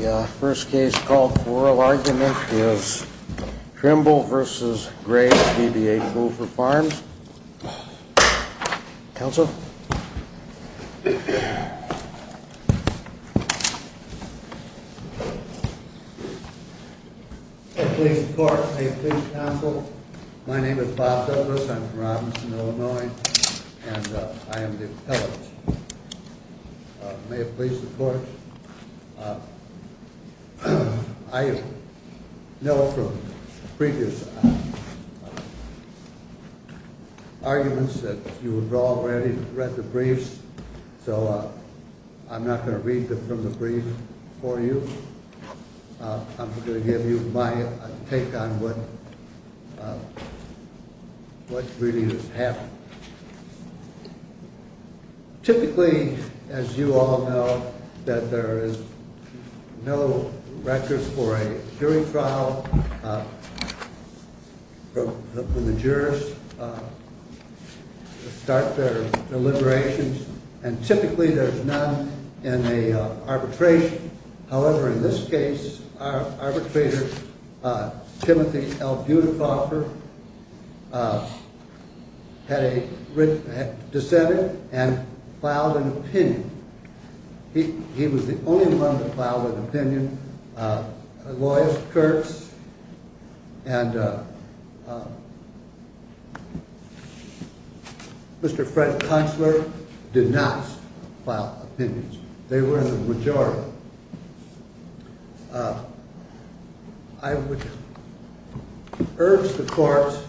The first case called for oral argument is Trimble v. Graves v. B.A. Poole for Farms. Counsel? May it please the court, may it please the counsel, my name is Bob Douglas, I'm from Robinson, Illinois, and I am the appellate. May it please the court, I know from previous arguments that you have already read the briefs, so I'm not going to read them from the brief for you. I'm going to give you my take on what really just happened. Typically, as you all know, that there is no records for a jury trial when the jurors start their deliberations, and typically there's none in the arbitration. However, in this case, our arbitrator, Timothy L. Budakoffer, had dissented and filed an opinion. He was the only one to file an opinion. Loyce, Kurtz, and Mr. Fred Kunstler did not file opinions. I would urge the courts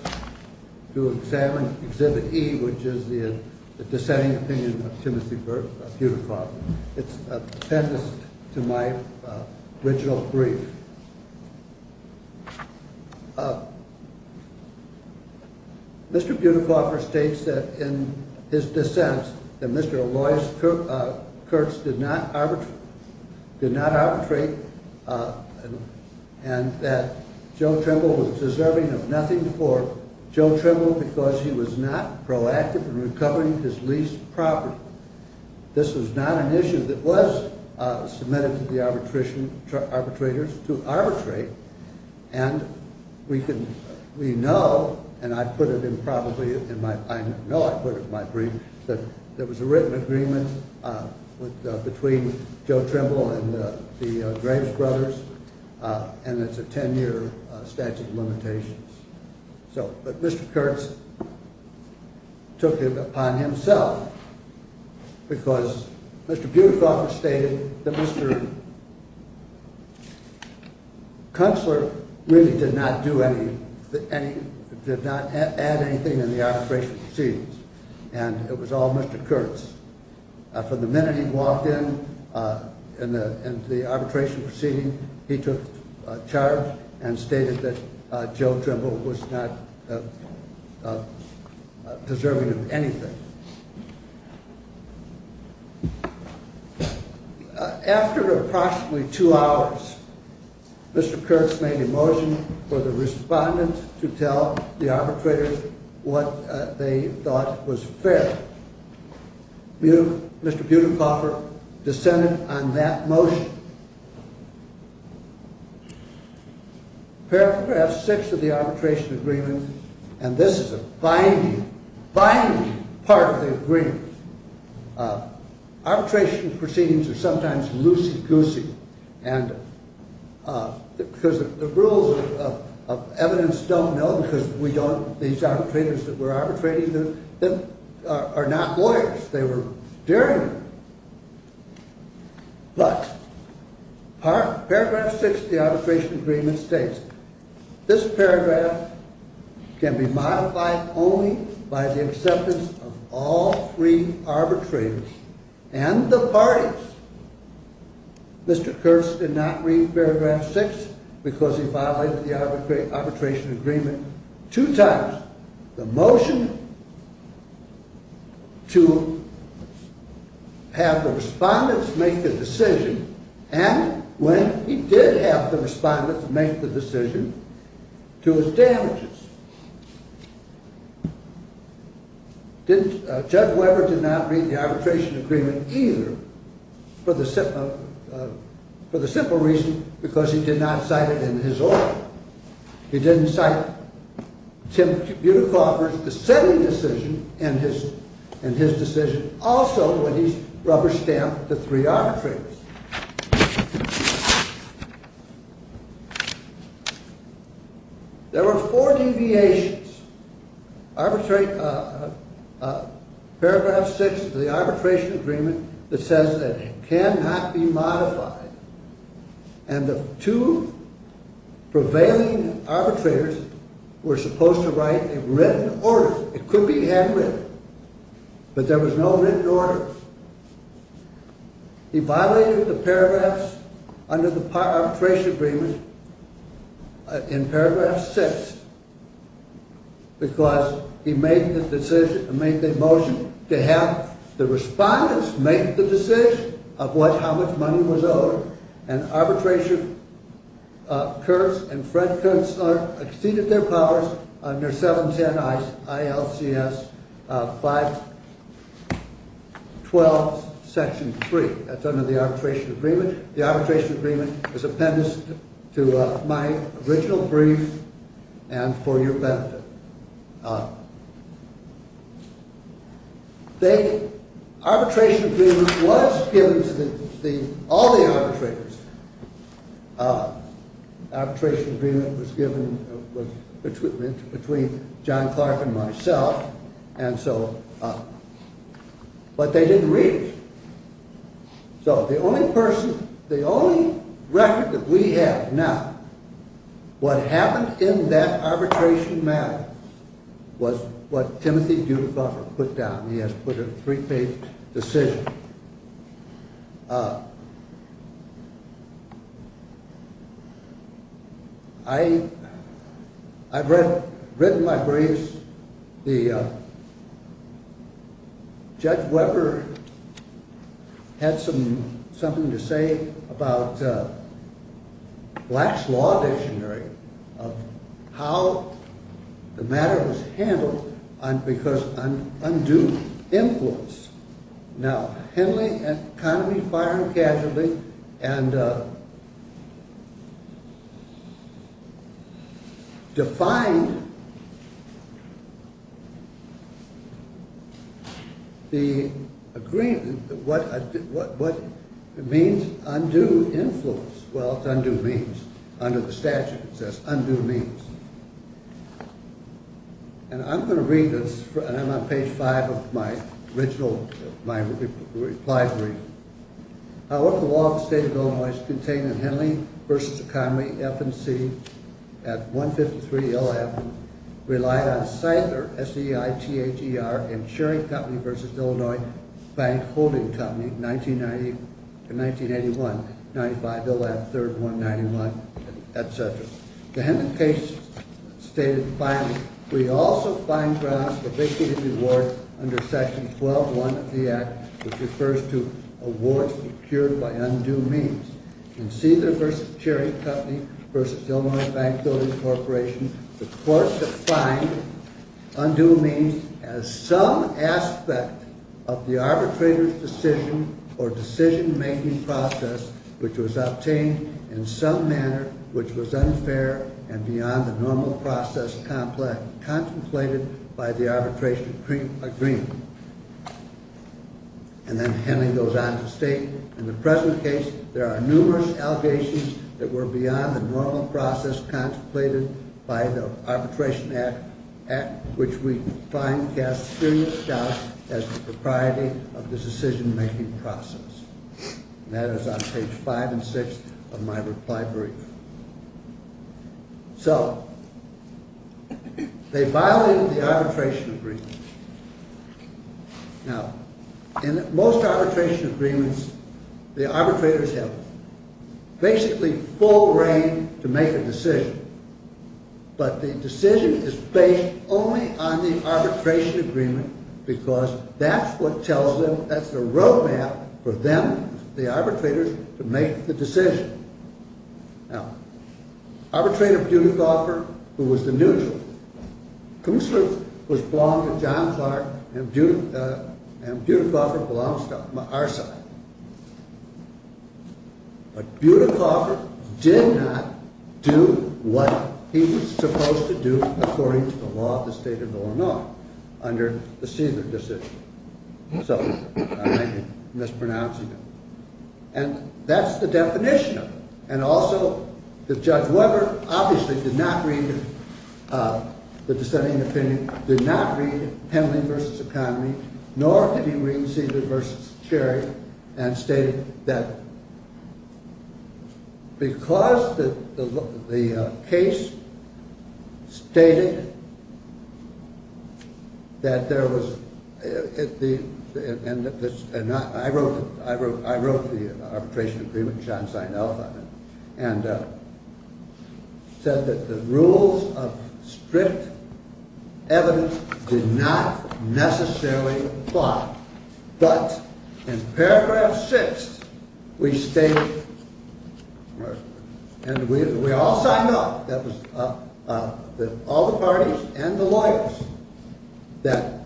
to examine Exhibit E, which is the dissenting opinion of Timothy L. Budakoffer. It's appendix to my original brief. Mr. Budakoffer states that in his dissent that Mr. Loyce Kurtz did not arbitrate and that Joe Trimble was deserving of nothing for Joe Trimble because he was not proactive in recovering his lease property. This was not an issue that was submitted to the arbitrators to arbitrate, and we know, and I know I put it in my brief, that there was a written agreement between Joe Trimble and the Graves brothers, and it's a 10-year statute of limitations. But Mr. Kurtz took it upon himself because Mr. Budakoffer stated that Mr. Kunstler really did not add anything in the arbitration proceedings, and it was all Mr. Kurtz. From the minute he walked in, in the arbitration proceeding, he took charge and stated that Joe Trimble was not deserving of anything. After approximately two hours, Mr. Kurtz made a motion for the respondent to tell the arbitrators what they thought was fair. Mr. Budakoffer dissented on that motion. Paragraph 6 of the arbitration agreement, and this is a binding, binding part of the agreement. Arbitration proceedings are sometimes loosey-goosey because the rules of evidence don't know because these arbitrators that were arbitrating them are not lawyers. They were derringer. But Paragraph 6 of the arbitration agreement states, This paragraph can be modified only by the acceptance of all three arbitrators and the parties. Mr. Kurtz did not read Paragraph 6 because he violated the arbitration agreement two times. The motion to have the respondents make the decision, and when he did have the respondents make the decision, to his damages. Judge Weber did not read the arbitration agreement either for the simple reason because he did not cite it in his order. He didn't cite Tim Budakoffer's dissenting decision and his decision also when he rubber-stamped the three arbitrators. There were four deviations. Paragraph 6 of the arbitration agreement that says that it cannot be modified. And the two prevailing arbitrators were supposed to write a written order. It could be handwritten, but there was no written order. He violated the paragraphs under the arbitration agreement in Paragraph 6 because he made the motion to have the respondents make the decision of how much money was owed. And Kurtz and Fred Kurtz exceeded their powers under 710 ILCS 512 Section 3. That's under the arbitration agreement. The arbitration agreement is appendiced to my original brief and for your benefit. The arbitration agreement was given to all the arbitrators. The arbitration agreement was given between John Clark and myself, but they didn't read it. So the only record that we have now, what happened in that arbitration matter was what Timothy Budakoffer put down. He has put a three-page decision. I've written my briefs. Judge Weber had something to say about Black's Law Dictionary of how the matter was handled because of undue influence. Now, Henley and Connolly fired him casually and defined the agreement, what it means, undue influence. Well, it's undue means. Under the statute, it says undue means. And I'm going to read this, and I'm on page 5 of my original reply brief. However, the law of the state of Illinois is contained in Henley v. Connolly, FNC, at 153 LF, relied on Seiter, S-E-I-T-H-E-R, Insuring Company v. Illinois Bank Holding Company, 1990 to 1981, 95 LF, 3rd, 191, etc. The Henley case stated, finally, we also find grounds for victory and reward under Section 12-1 of the Act, which refers to awards procured by undue means. In Seiter v. Insuring Company v. Illinois Bank Holding Corporation, the court defined undue means as some aspect of the arbitrator's decision or decision-making process which was obtained in some manner which was unfair and beyond the normal process contemplated by the arbitration agreement. And then Henley goes on to state, in the present case, there are numerous allegations that were beyond the normal process contemplated by the Arbitration Act, which we find casts serious doubt as the propriety of the decision-making process. And that is on page 5 and 6 of my reply brief. So, they violated the arbitration agreement. Now, in most arbitration agreements, the arbitrators have basically full reign to make a decision, but the decision is based only on the arbitration agreement because that's what tells them, that's the road map for them, the arbitrators, to make the decision. Now, Arbitrator Budekhofer, who was the neutral, was belonged to John Clark and Budekhofer belongs to our side. But Budekhofer did not do what he was supposed to do according to the law of the state of Illinois under the Cesar decision. So, I may be mispronouncing it. And that's the definition of it. And also, Judge Weber obviously did not read the dissenting opinion, did not read Henley v. Economy, nor did he read Cesar v. Cherry, and stated that because the case stated that there was... I wrote the arbitration agreement, John signed off on it, and said that the rules of strict evidence did not necessarily apply. But in paragraph 6, we stated, and we all signed off, all the parties and the lawyers, that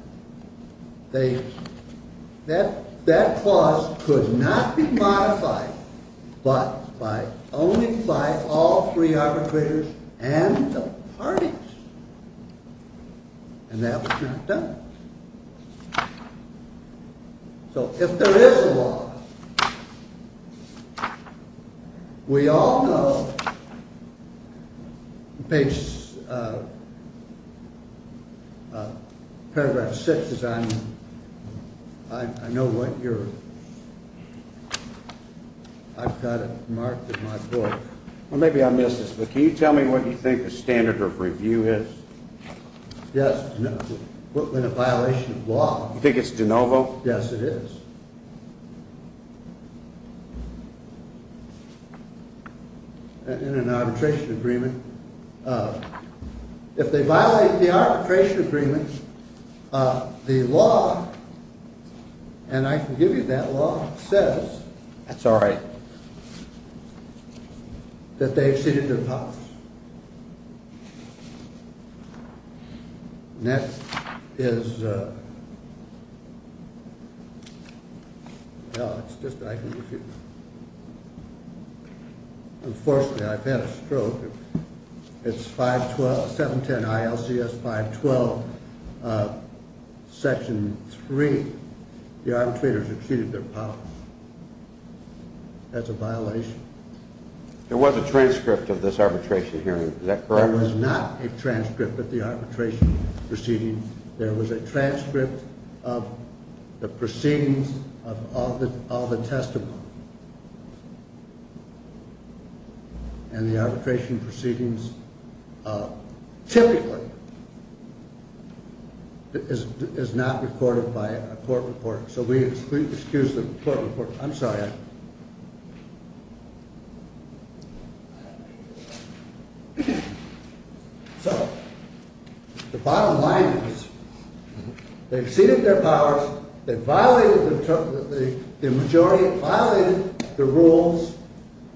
that clause could not be modified but only by all three arbitrators and the parties. And that was not done. So, if there is a law, we all know, page... paragraph 6 is on... I know what your... I've got it marked in my book. Well, maybe I missed this, but can you tell me what you think the standard of review is? Yes, in a violation of law. You think it's de novo? Yes, it is. In an arbitration agreement, if they violate the arbitration agreement, the law, and I can give you that law, says... That's all right. That they exceeded their powers. Next is... Unfortunately, I've had a stroke. It's 512, 710 ILCS 512, section 3. The arbitrators exceeded their powers. That's a violation. There was a transcript of this arbitration hearing. Is that correct? There was not a transcript of the arbitration proceedings. There was a transcript of the proceedings of all the testimony. And the arbitration proceedings, typically, is not recorded by a court reporter. So, we excuse the court reporter. I'm sorry. So, the bottom line is they exceeded their powers. They violated the majority, violated the rules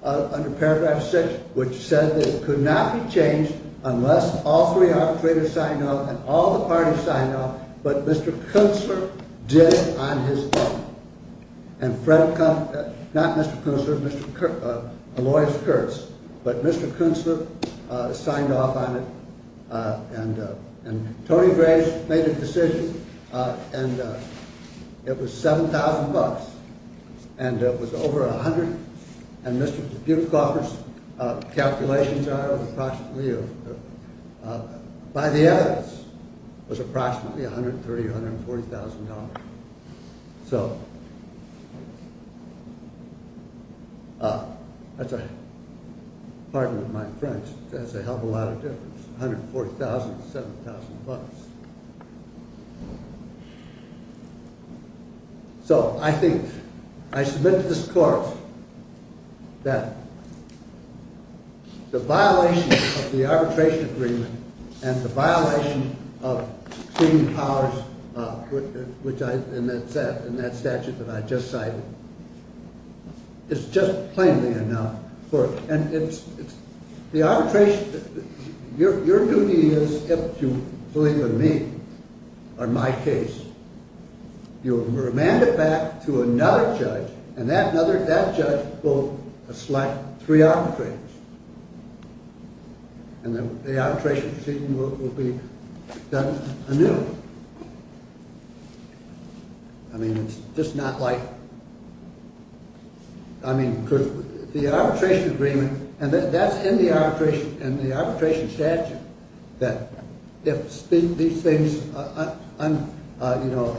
under paragraph 6, which said that it could not be changed unless all three arbitrators signed off and all the parties signed off, but Mr. Kutzler did it on his own. And Fred, not Mr. Kutzler, Aloysius Kurtz, but Mr. Kutzler signed off on it, and Tony Grace made a decision, and it was 7,000 bucks. And it was over $100,000, and Mr. Butegoffer's calculations are approximately, by the evidence, was approximately $130,000, $140,000. So, that's a, pardon my French, that's a hell of a lot of difference. $140,000, $70,000 bucks. So, I think, I submit to this court that the violation of the arbitration agreement and the violation of exceeding powers, which I, in that statute that I just cited, is just plainly enough. The arbitration, your duty is, if you believe in me, or my case, you remand it back to another judge, and that judge will select three arbitrators, and the arbitration proceeding will be done anew. I mean, it's just not like, I mean, the arbitration agreement, and that's in the arbitration statute, that if these things, you know,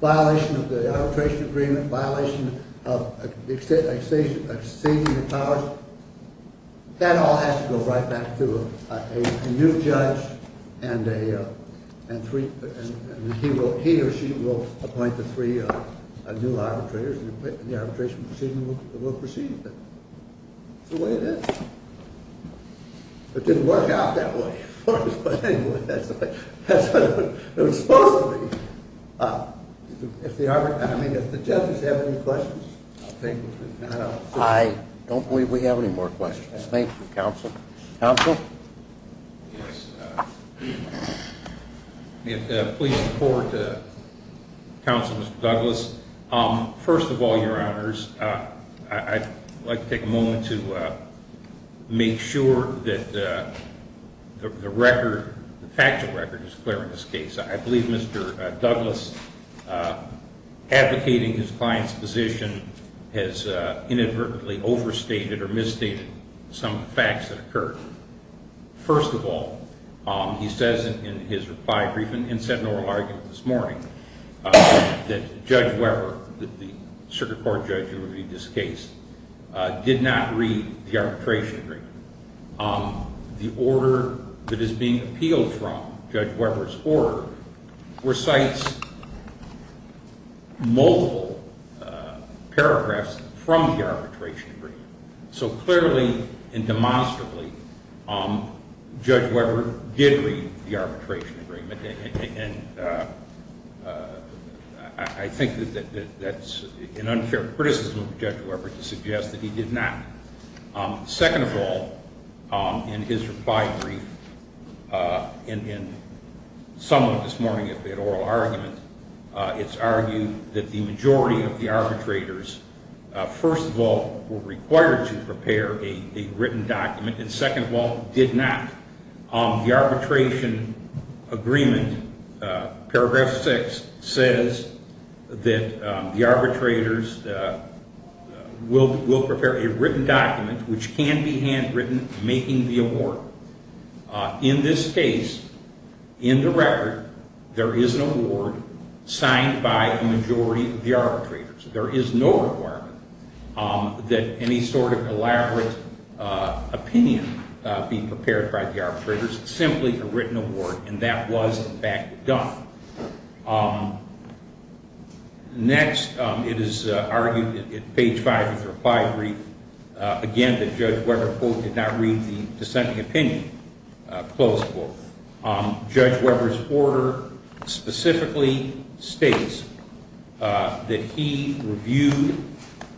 violation of the arbitration agreement, violation of exceeding powers, that all has to go right back to a new judge, and he or she will appoint the three new arbitrators, and the arbitration proceeding will proceed. That's the way it is. It didn't work out that way for us, but anyway, that's the way it was supposed to be. If the arbitration, I mean, if the judges have any questions, I'll take them. I don't believe we have any more questions. Thank you, counsel. Counsel? Yes. Please report to counsel, Mr. Douglas. First of all, your honors, I'd like to take a moment to make sure that the record, the factual record is clear in this case. I believe Mr. Douglas advocating his client's position has inadvertently overstated or misstated some facts that occurred. First of all, he says in his reply brief and said in an oral argument this morning that Judge Weber, the circuit court judge who reviewed this case, did not read the arbitration agreement. The order that is being appealed from, Judge Weber's order, recites multiple paragraphs from the arbitration agreement. So clearly and demonstrably, Judge Weber did read the arbitration agreement, and I think that that's an unfair criticism of Judge Weber to suggest that he did not. Second of all, in his reply brief and in some of this morning's oral argument, it's argued that the majority of the arbitrators, first of all, were required to prepare a written document, and second of all, did not. The arbitration agreement, paragraph 6, says that the arbitrators will prepare a written document which can be handwritten making the award. In this case, in the record, there is an award signed by a majority of the arbitrators. There is no requirement that any sort of elaborate opinion be prepared by the arbitrators, simply a written award, and that was in fact done. Next, it is argued in page 5 of the reply brief, again, that Judge Weber, quote, did not read the dissenting opinion, closed quote. Judge Weber's order specifically states that he reviewed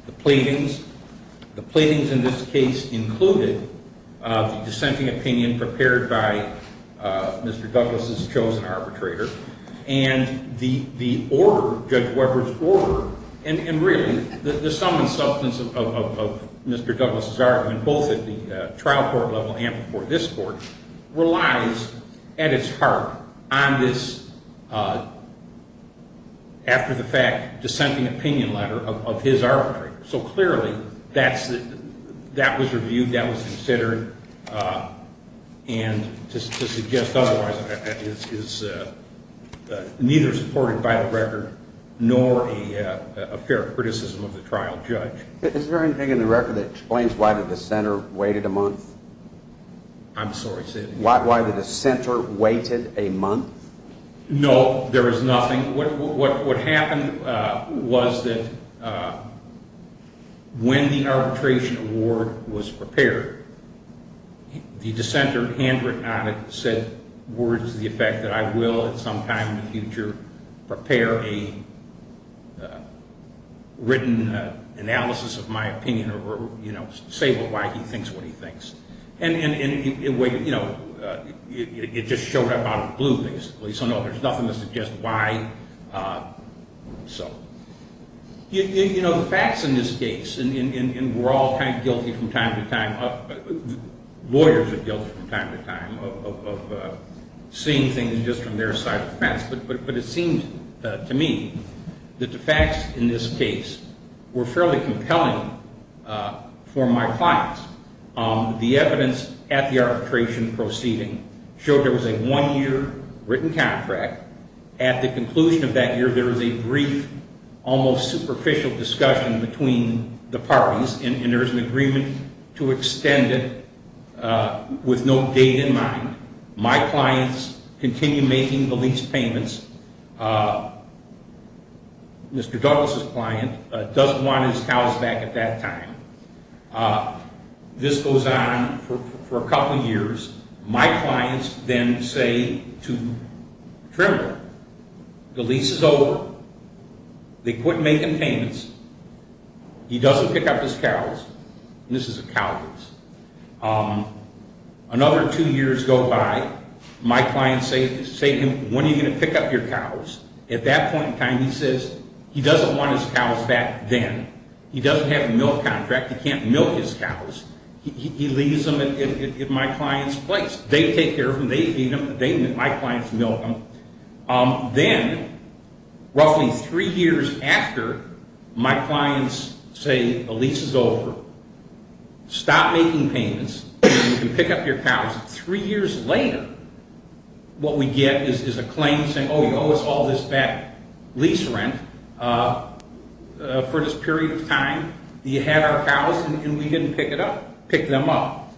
the platings. This included the dissenting opinion prepared by Mr. Douglas' chosen arbitrator, and the order, Judge Weber's order, and really, the sum and substance of Mr. Douglas' argument, both at the trial court level and before this court, relies at its heart on this, after the fact, dissenting opinion letter of his arbitrator. So clearly, that was reviewed, that was considered, and to suggest otherwise is neither supported by the record nor a fair criticism of the trial judge. Is there anything in the record that explains why the dissenter waited a month? I'm sorry, say that again. No, there is nothing. What happened was that when the arbitration award was prepared, the dissenter handwritten on it said words to the effect that I will at some time in the future prepare a written analysis of my opinion or say why he thinks what he thinks. And it just showed up out of the blue, basically. So no, there's nothing to suggest why. You know, the facts in this case, and we're all kind of guilty from time to time, lawyers are guilty from time to time of seeing things just from their side of the fence, but it seems to me that the facts in this case were fairly compelling for my clients. The evidence at the arbitration proceeding showed there was a one-year written contract. At the conclusion of that year, there was a brief, almost superficial discussion between the parties, and there was an agreement to extend it with no date in mind. My clients continue making the lease payments. Mr. Douglas' client doesn't want his cows back at that time. This goes on for a couple years. My clients then say to Trimble, the lease is over. They quit making payments. He doesn't pick up his cows. This is a cow lease. Another two years go by. My clients say to him, when are you going to pick up your cows? At that point in time, he says he doesn't want his cows back then. He doesn't have a milk contract. He can't milk his cows. He leaves them at my client's place. They take care of them. They feed them. My clients milk them. Then, roughly three years after my clients say the lease is over, stop making payments, and you can pick up your cows, three years later, what we get is a claim saying, oh, you owe us all this bad lease rent for this period of time. You had our cows, and we didn't pick them up. Pick them up.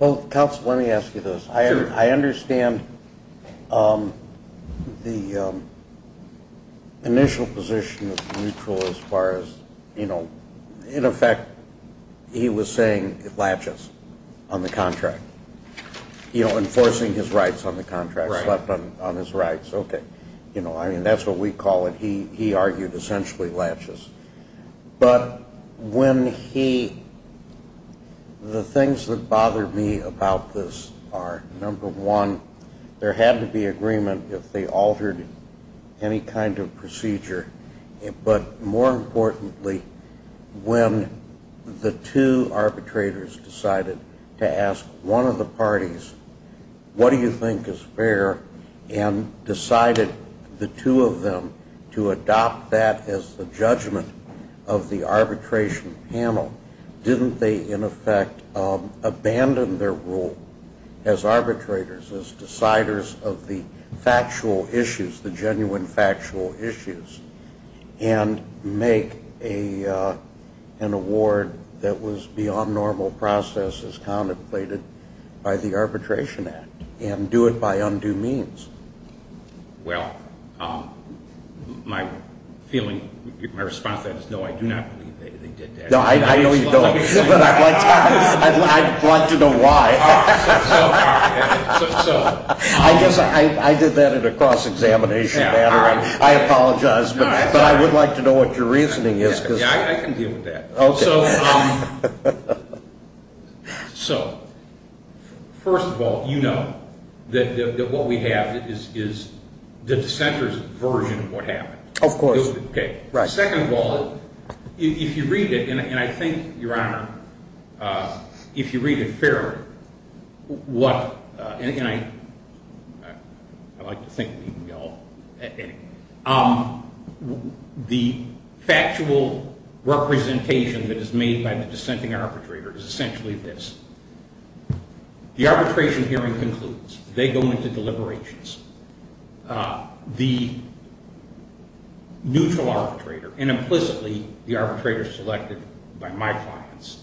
Well, counsel, let me ask you this. I understand the initial position of Neutral as far as, in effect, he was saying it latches on the contract, enforcing his rights on the contract, slept on his rights. That's what we call it. He argued, essentially, latches. But when he – the things that bother me about this are, number one, there had to be agreement if they altered any kind of procedure. But more importantly, when the two arbitrators decided to ask one of the parties, what do you think is fair, and decided the two of them to adopt that as the judgment of the arbitration panel, didn't they, in effect, abandon their role as arbitrators, as deciders of the factual issues, the genuine factual issues? And make an award that was beyond normal process as contemplated by the Arbitration Act, and do it by undue means? Well, my feeling, my response to that is, no, I do not believe they did that. No, I know you don't. But I'd like to know why. So, so. I guess I did that in a cross-examination manner. I apologize, but I would like to know what your reasoning is. Yeah, I can deal with that. Okay. So, first of all, you know that what we have is the dissenter's version of what happened. Of course. Okay. Second of all, if you read it, and I think, Your Honor, if you read it fairly, what, and I like to think we all, anyway, the factual representation that is made by the dissenting arbitrator is essentially this. The arbitration hearing concludes. They go into deliberations. The neutral arbitrator, and implicitly the arbitrator selected by my clients,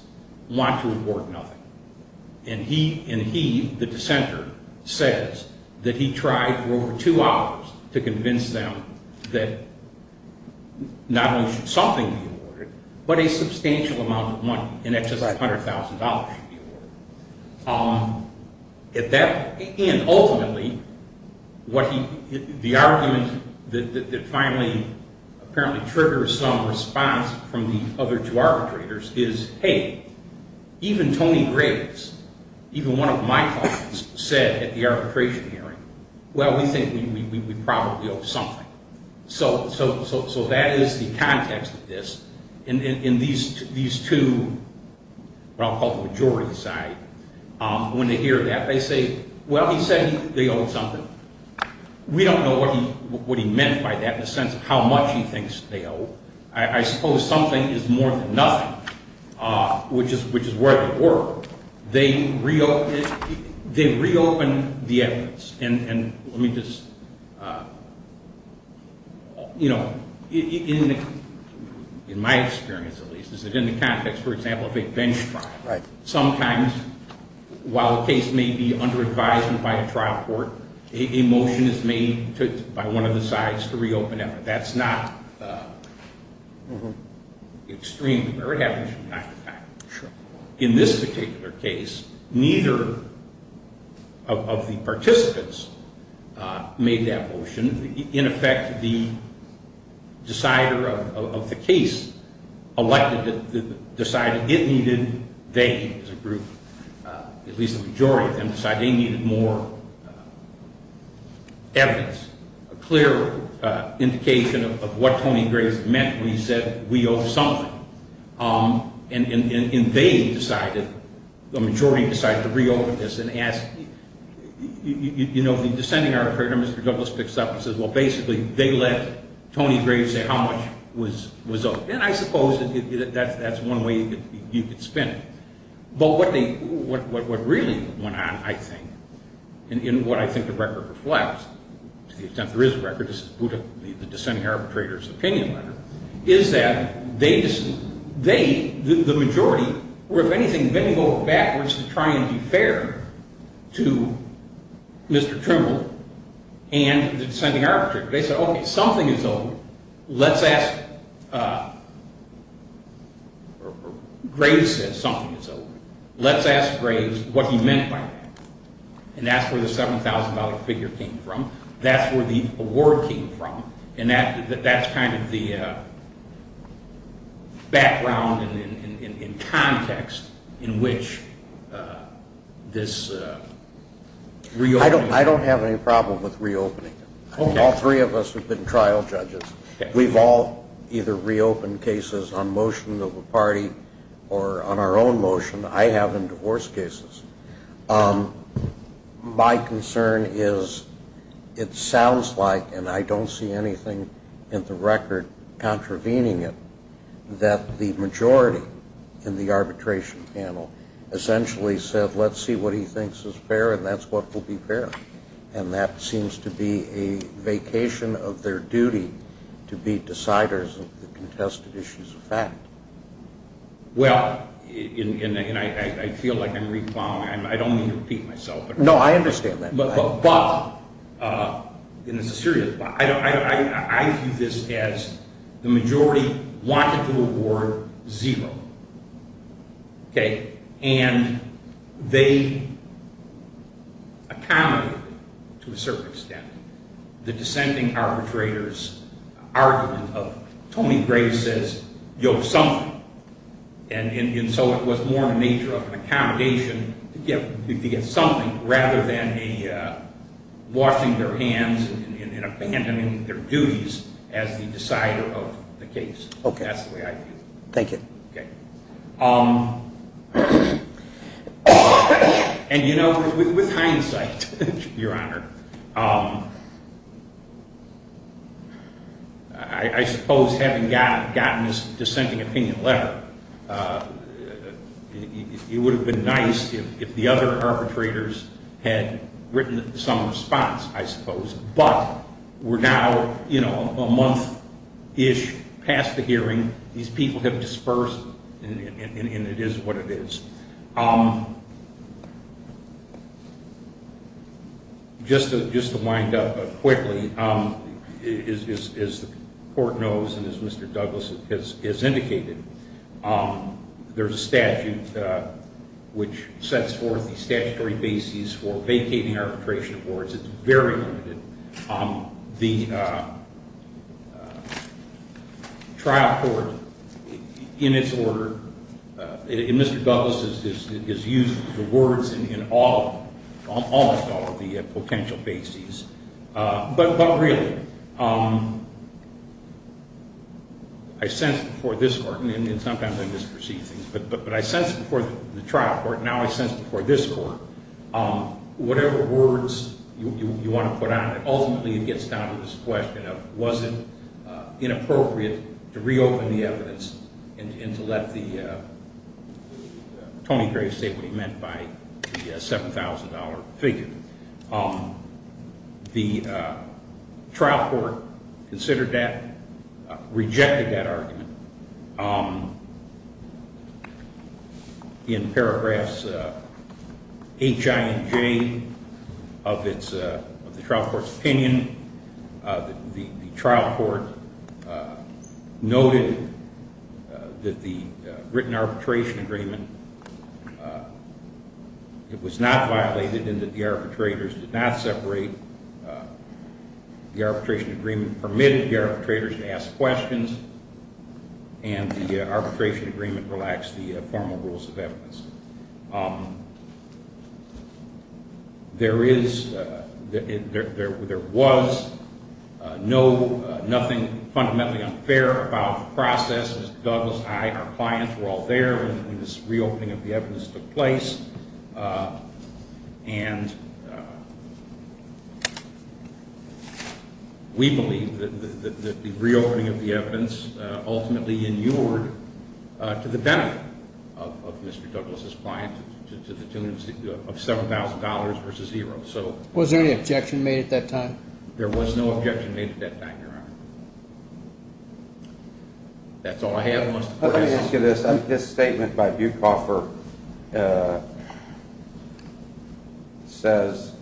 want to award nothing. And he, the dissenter, says that he tried for over two hours to convince them that not only should something be awarded, but a substantial amount of money in excess of $100,000 should be awarded. At that, and ultimately, what he, the argument that finally apparently triggers some response from the other two arbitrators is, hey, even Tony Graves, even one of my clients, said at the arbitration hearing, well, we think we probably owe something. So that is the context of this. And these two, what I'll call the majority side, when they hear that, they say, well, he said they owe something. We don't know what he meant by that in the sense of how much he thinks they owe. I suppose something is more than nothing, which is where they were. They reopened the evidence. And let me just, you know, in my experience, at least, is that in the context, for example, of a bench trial. Sometimes, while a case may be under advisement by a trial court, a motion is made by one of the sides to reopen evidence. That's not extreme, or it happens from time to time. In this particular case, neither of the participants made that motion. In effect, the decider of the case elected it, decided it needed, they as a group, at least the majority of them, decided they needed more evidence, a clear indication of what Tony Graves meant when he said we owe something. And they decided, the majority decided to reopen this and ask, you know, the dissenting argument, Mr. Douglas picks up and says, well, basically, they let Tony Graves say how much was owed. And I suppose that's one way you could spin it. But what really went on, I think, and what I think the record reflects, to the extent there is a record, is the dissenting arbitrator's opinion letter, is that they, the majority, were, if anything, bending over backwards to try and be fair to Mr. Trimble and the dissenting arbitrator. They said, okay, something is owed. Let's ask, Graves said something is owed. Let's ask Graves what he meant by that. And that's where the $7,000 figure came from. That's where the award came from. And that's kind of the background and context in which this reopening. All three of us have been trial judges. We've all either reopened cases on motions of the party or on our own motion. I have in divorce cases. My concern is it sounds like, and I don't see anything in the record contravening it, that the majority in the arbitration panel essentially said, let's see what he thinks is fair, and that's what will be fair. And that seems to be a vacation of their duty to be deciders of the contested issues of fact. Well, and I feel like I'm recalling, I don't mean to repeat myself. No, I understand that. But, and this is serious, but I view this as the majority wanted to award zero. And they accommodated it to a certain extent. The dissenting arbitrators argument of Tony Graves says, yo, something. And so it was more in the nature of an accommodation to get something rather than a washing their hands and abandoning their duties as the decider of the case. Okay. That's the way I view it. Thank you. Okay. And, you know, with hindsight, Your Honor, I suppose having gotten this dissenting opinion letter, it would have been nice if the other arbitrators had written some response, I suppose. But we're now, you know, a month-ish past the hearing. These people have dispersed, and it is what it is. Just to wind up quickly, as the Court knows and as Mr. Douglas has indicated, there's a statute which sets forth the statutory basis for vacating arbitration awards. It's very limited. The trial court in its order, and Mr. Douglas has used the words in almost all of the potential bases. But really, I sense before this Court, and sometimes I misperceive things, but I sense before the trial court, now I sense before this Court, whatever words you want to put on it, ultimately it gets down to this question of was it inappropriate to reopen the evidence and to let Tony Graves say what he meant by the $7,000 figure. The trial court considered that, rejected that argument. In paragraphs H, I, and J of the trial court's opinion, the trial court noted that the written arbitration agreement, it was not violated and that the arbitrators did not separate. The arbitration agreement permitted the arbitrators to ask questions, and the arbitration agreement relaxed the formal rules of evidence. There is, there was no, nothing fundamentally unfair about the process. Mr. Douglas and I, our clients were all there when this reopening of the evidence took place, and we believe that the reopening of the evidence ultimately inured to the benefit of Mr. Douglas' client to the tune of $7,000 versus zero. Was there any objection made at that time? There was no objection made at that time, Your Honor. That's all I have. Let me ask you this. This statement by Bucoffer says,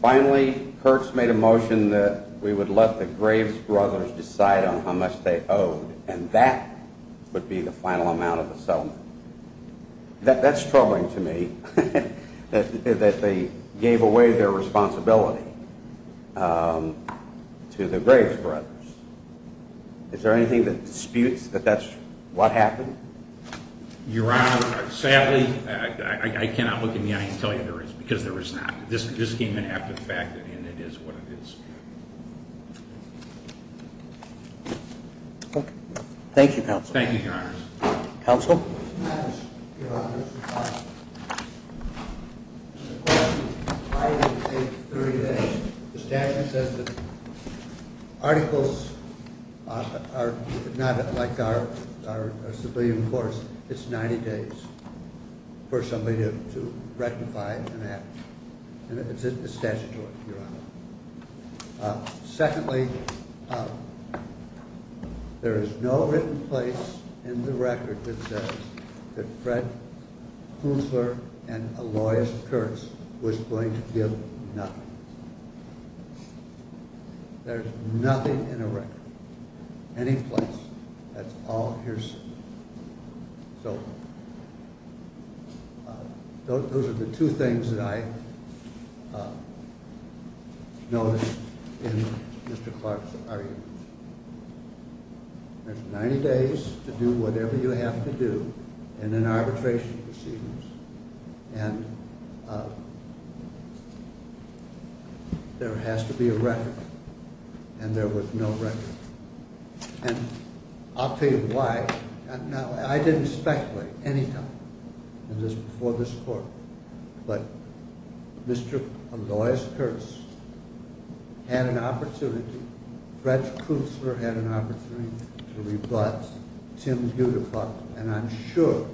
finally, Kirks made a motion that we would let the Graves brothers decide on how much they owed, and that would be the final amount of the settlement. That's troubling to me, that they gave away their responsibility to the Graves brothers. Is there anything that disputes that that's what happened? Your Honor, sadly, I cannot look in the eye and tell you there is, because there is not. This came in after the fact, and it is what it is. Thank you, Counsel. Thank you, Your Honor. Counsel? Yes, Your Honor. The statute says that articles are not like our civilian courts. It's 90 days for somebody to rectify an act, and it's statutory, Your Honor. Secondly, there is no written place in the record that says that Fred Kuntzler and Aloysius Kirks was going to give nothing. There's nothing in the record, any place, that's all here says. So those are the two things that I noticed in Mr. Clark's arguments. There's 90 days to do whatever you have to do in an arbitration proceedings, and there has to be a record, and there was no record. And I'll tell you why. Now, I didn't speculate any time before this court, but Mr. Aloysius Kirks had an opportunity, Fred Kuntzler had an opportunity to rebut Tim Budafuck, and I'm sure,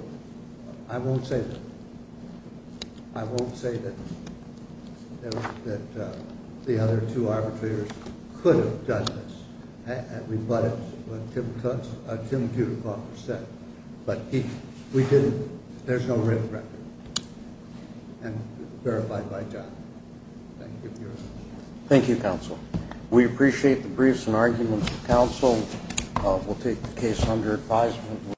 I won't say that. The other two arbitrators could have done this and rebutted what Tim Budafuck said, but we didn't. There's no written record, and verified by John. Thank you, Your Honor. Thank you, Counsel. We appreciate the briefs and arguments of Counsel. We'll take the case under advisement.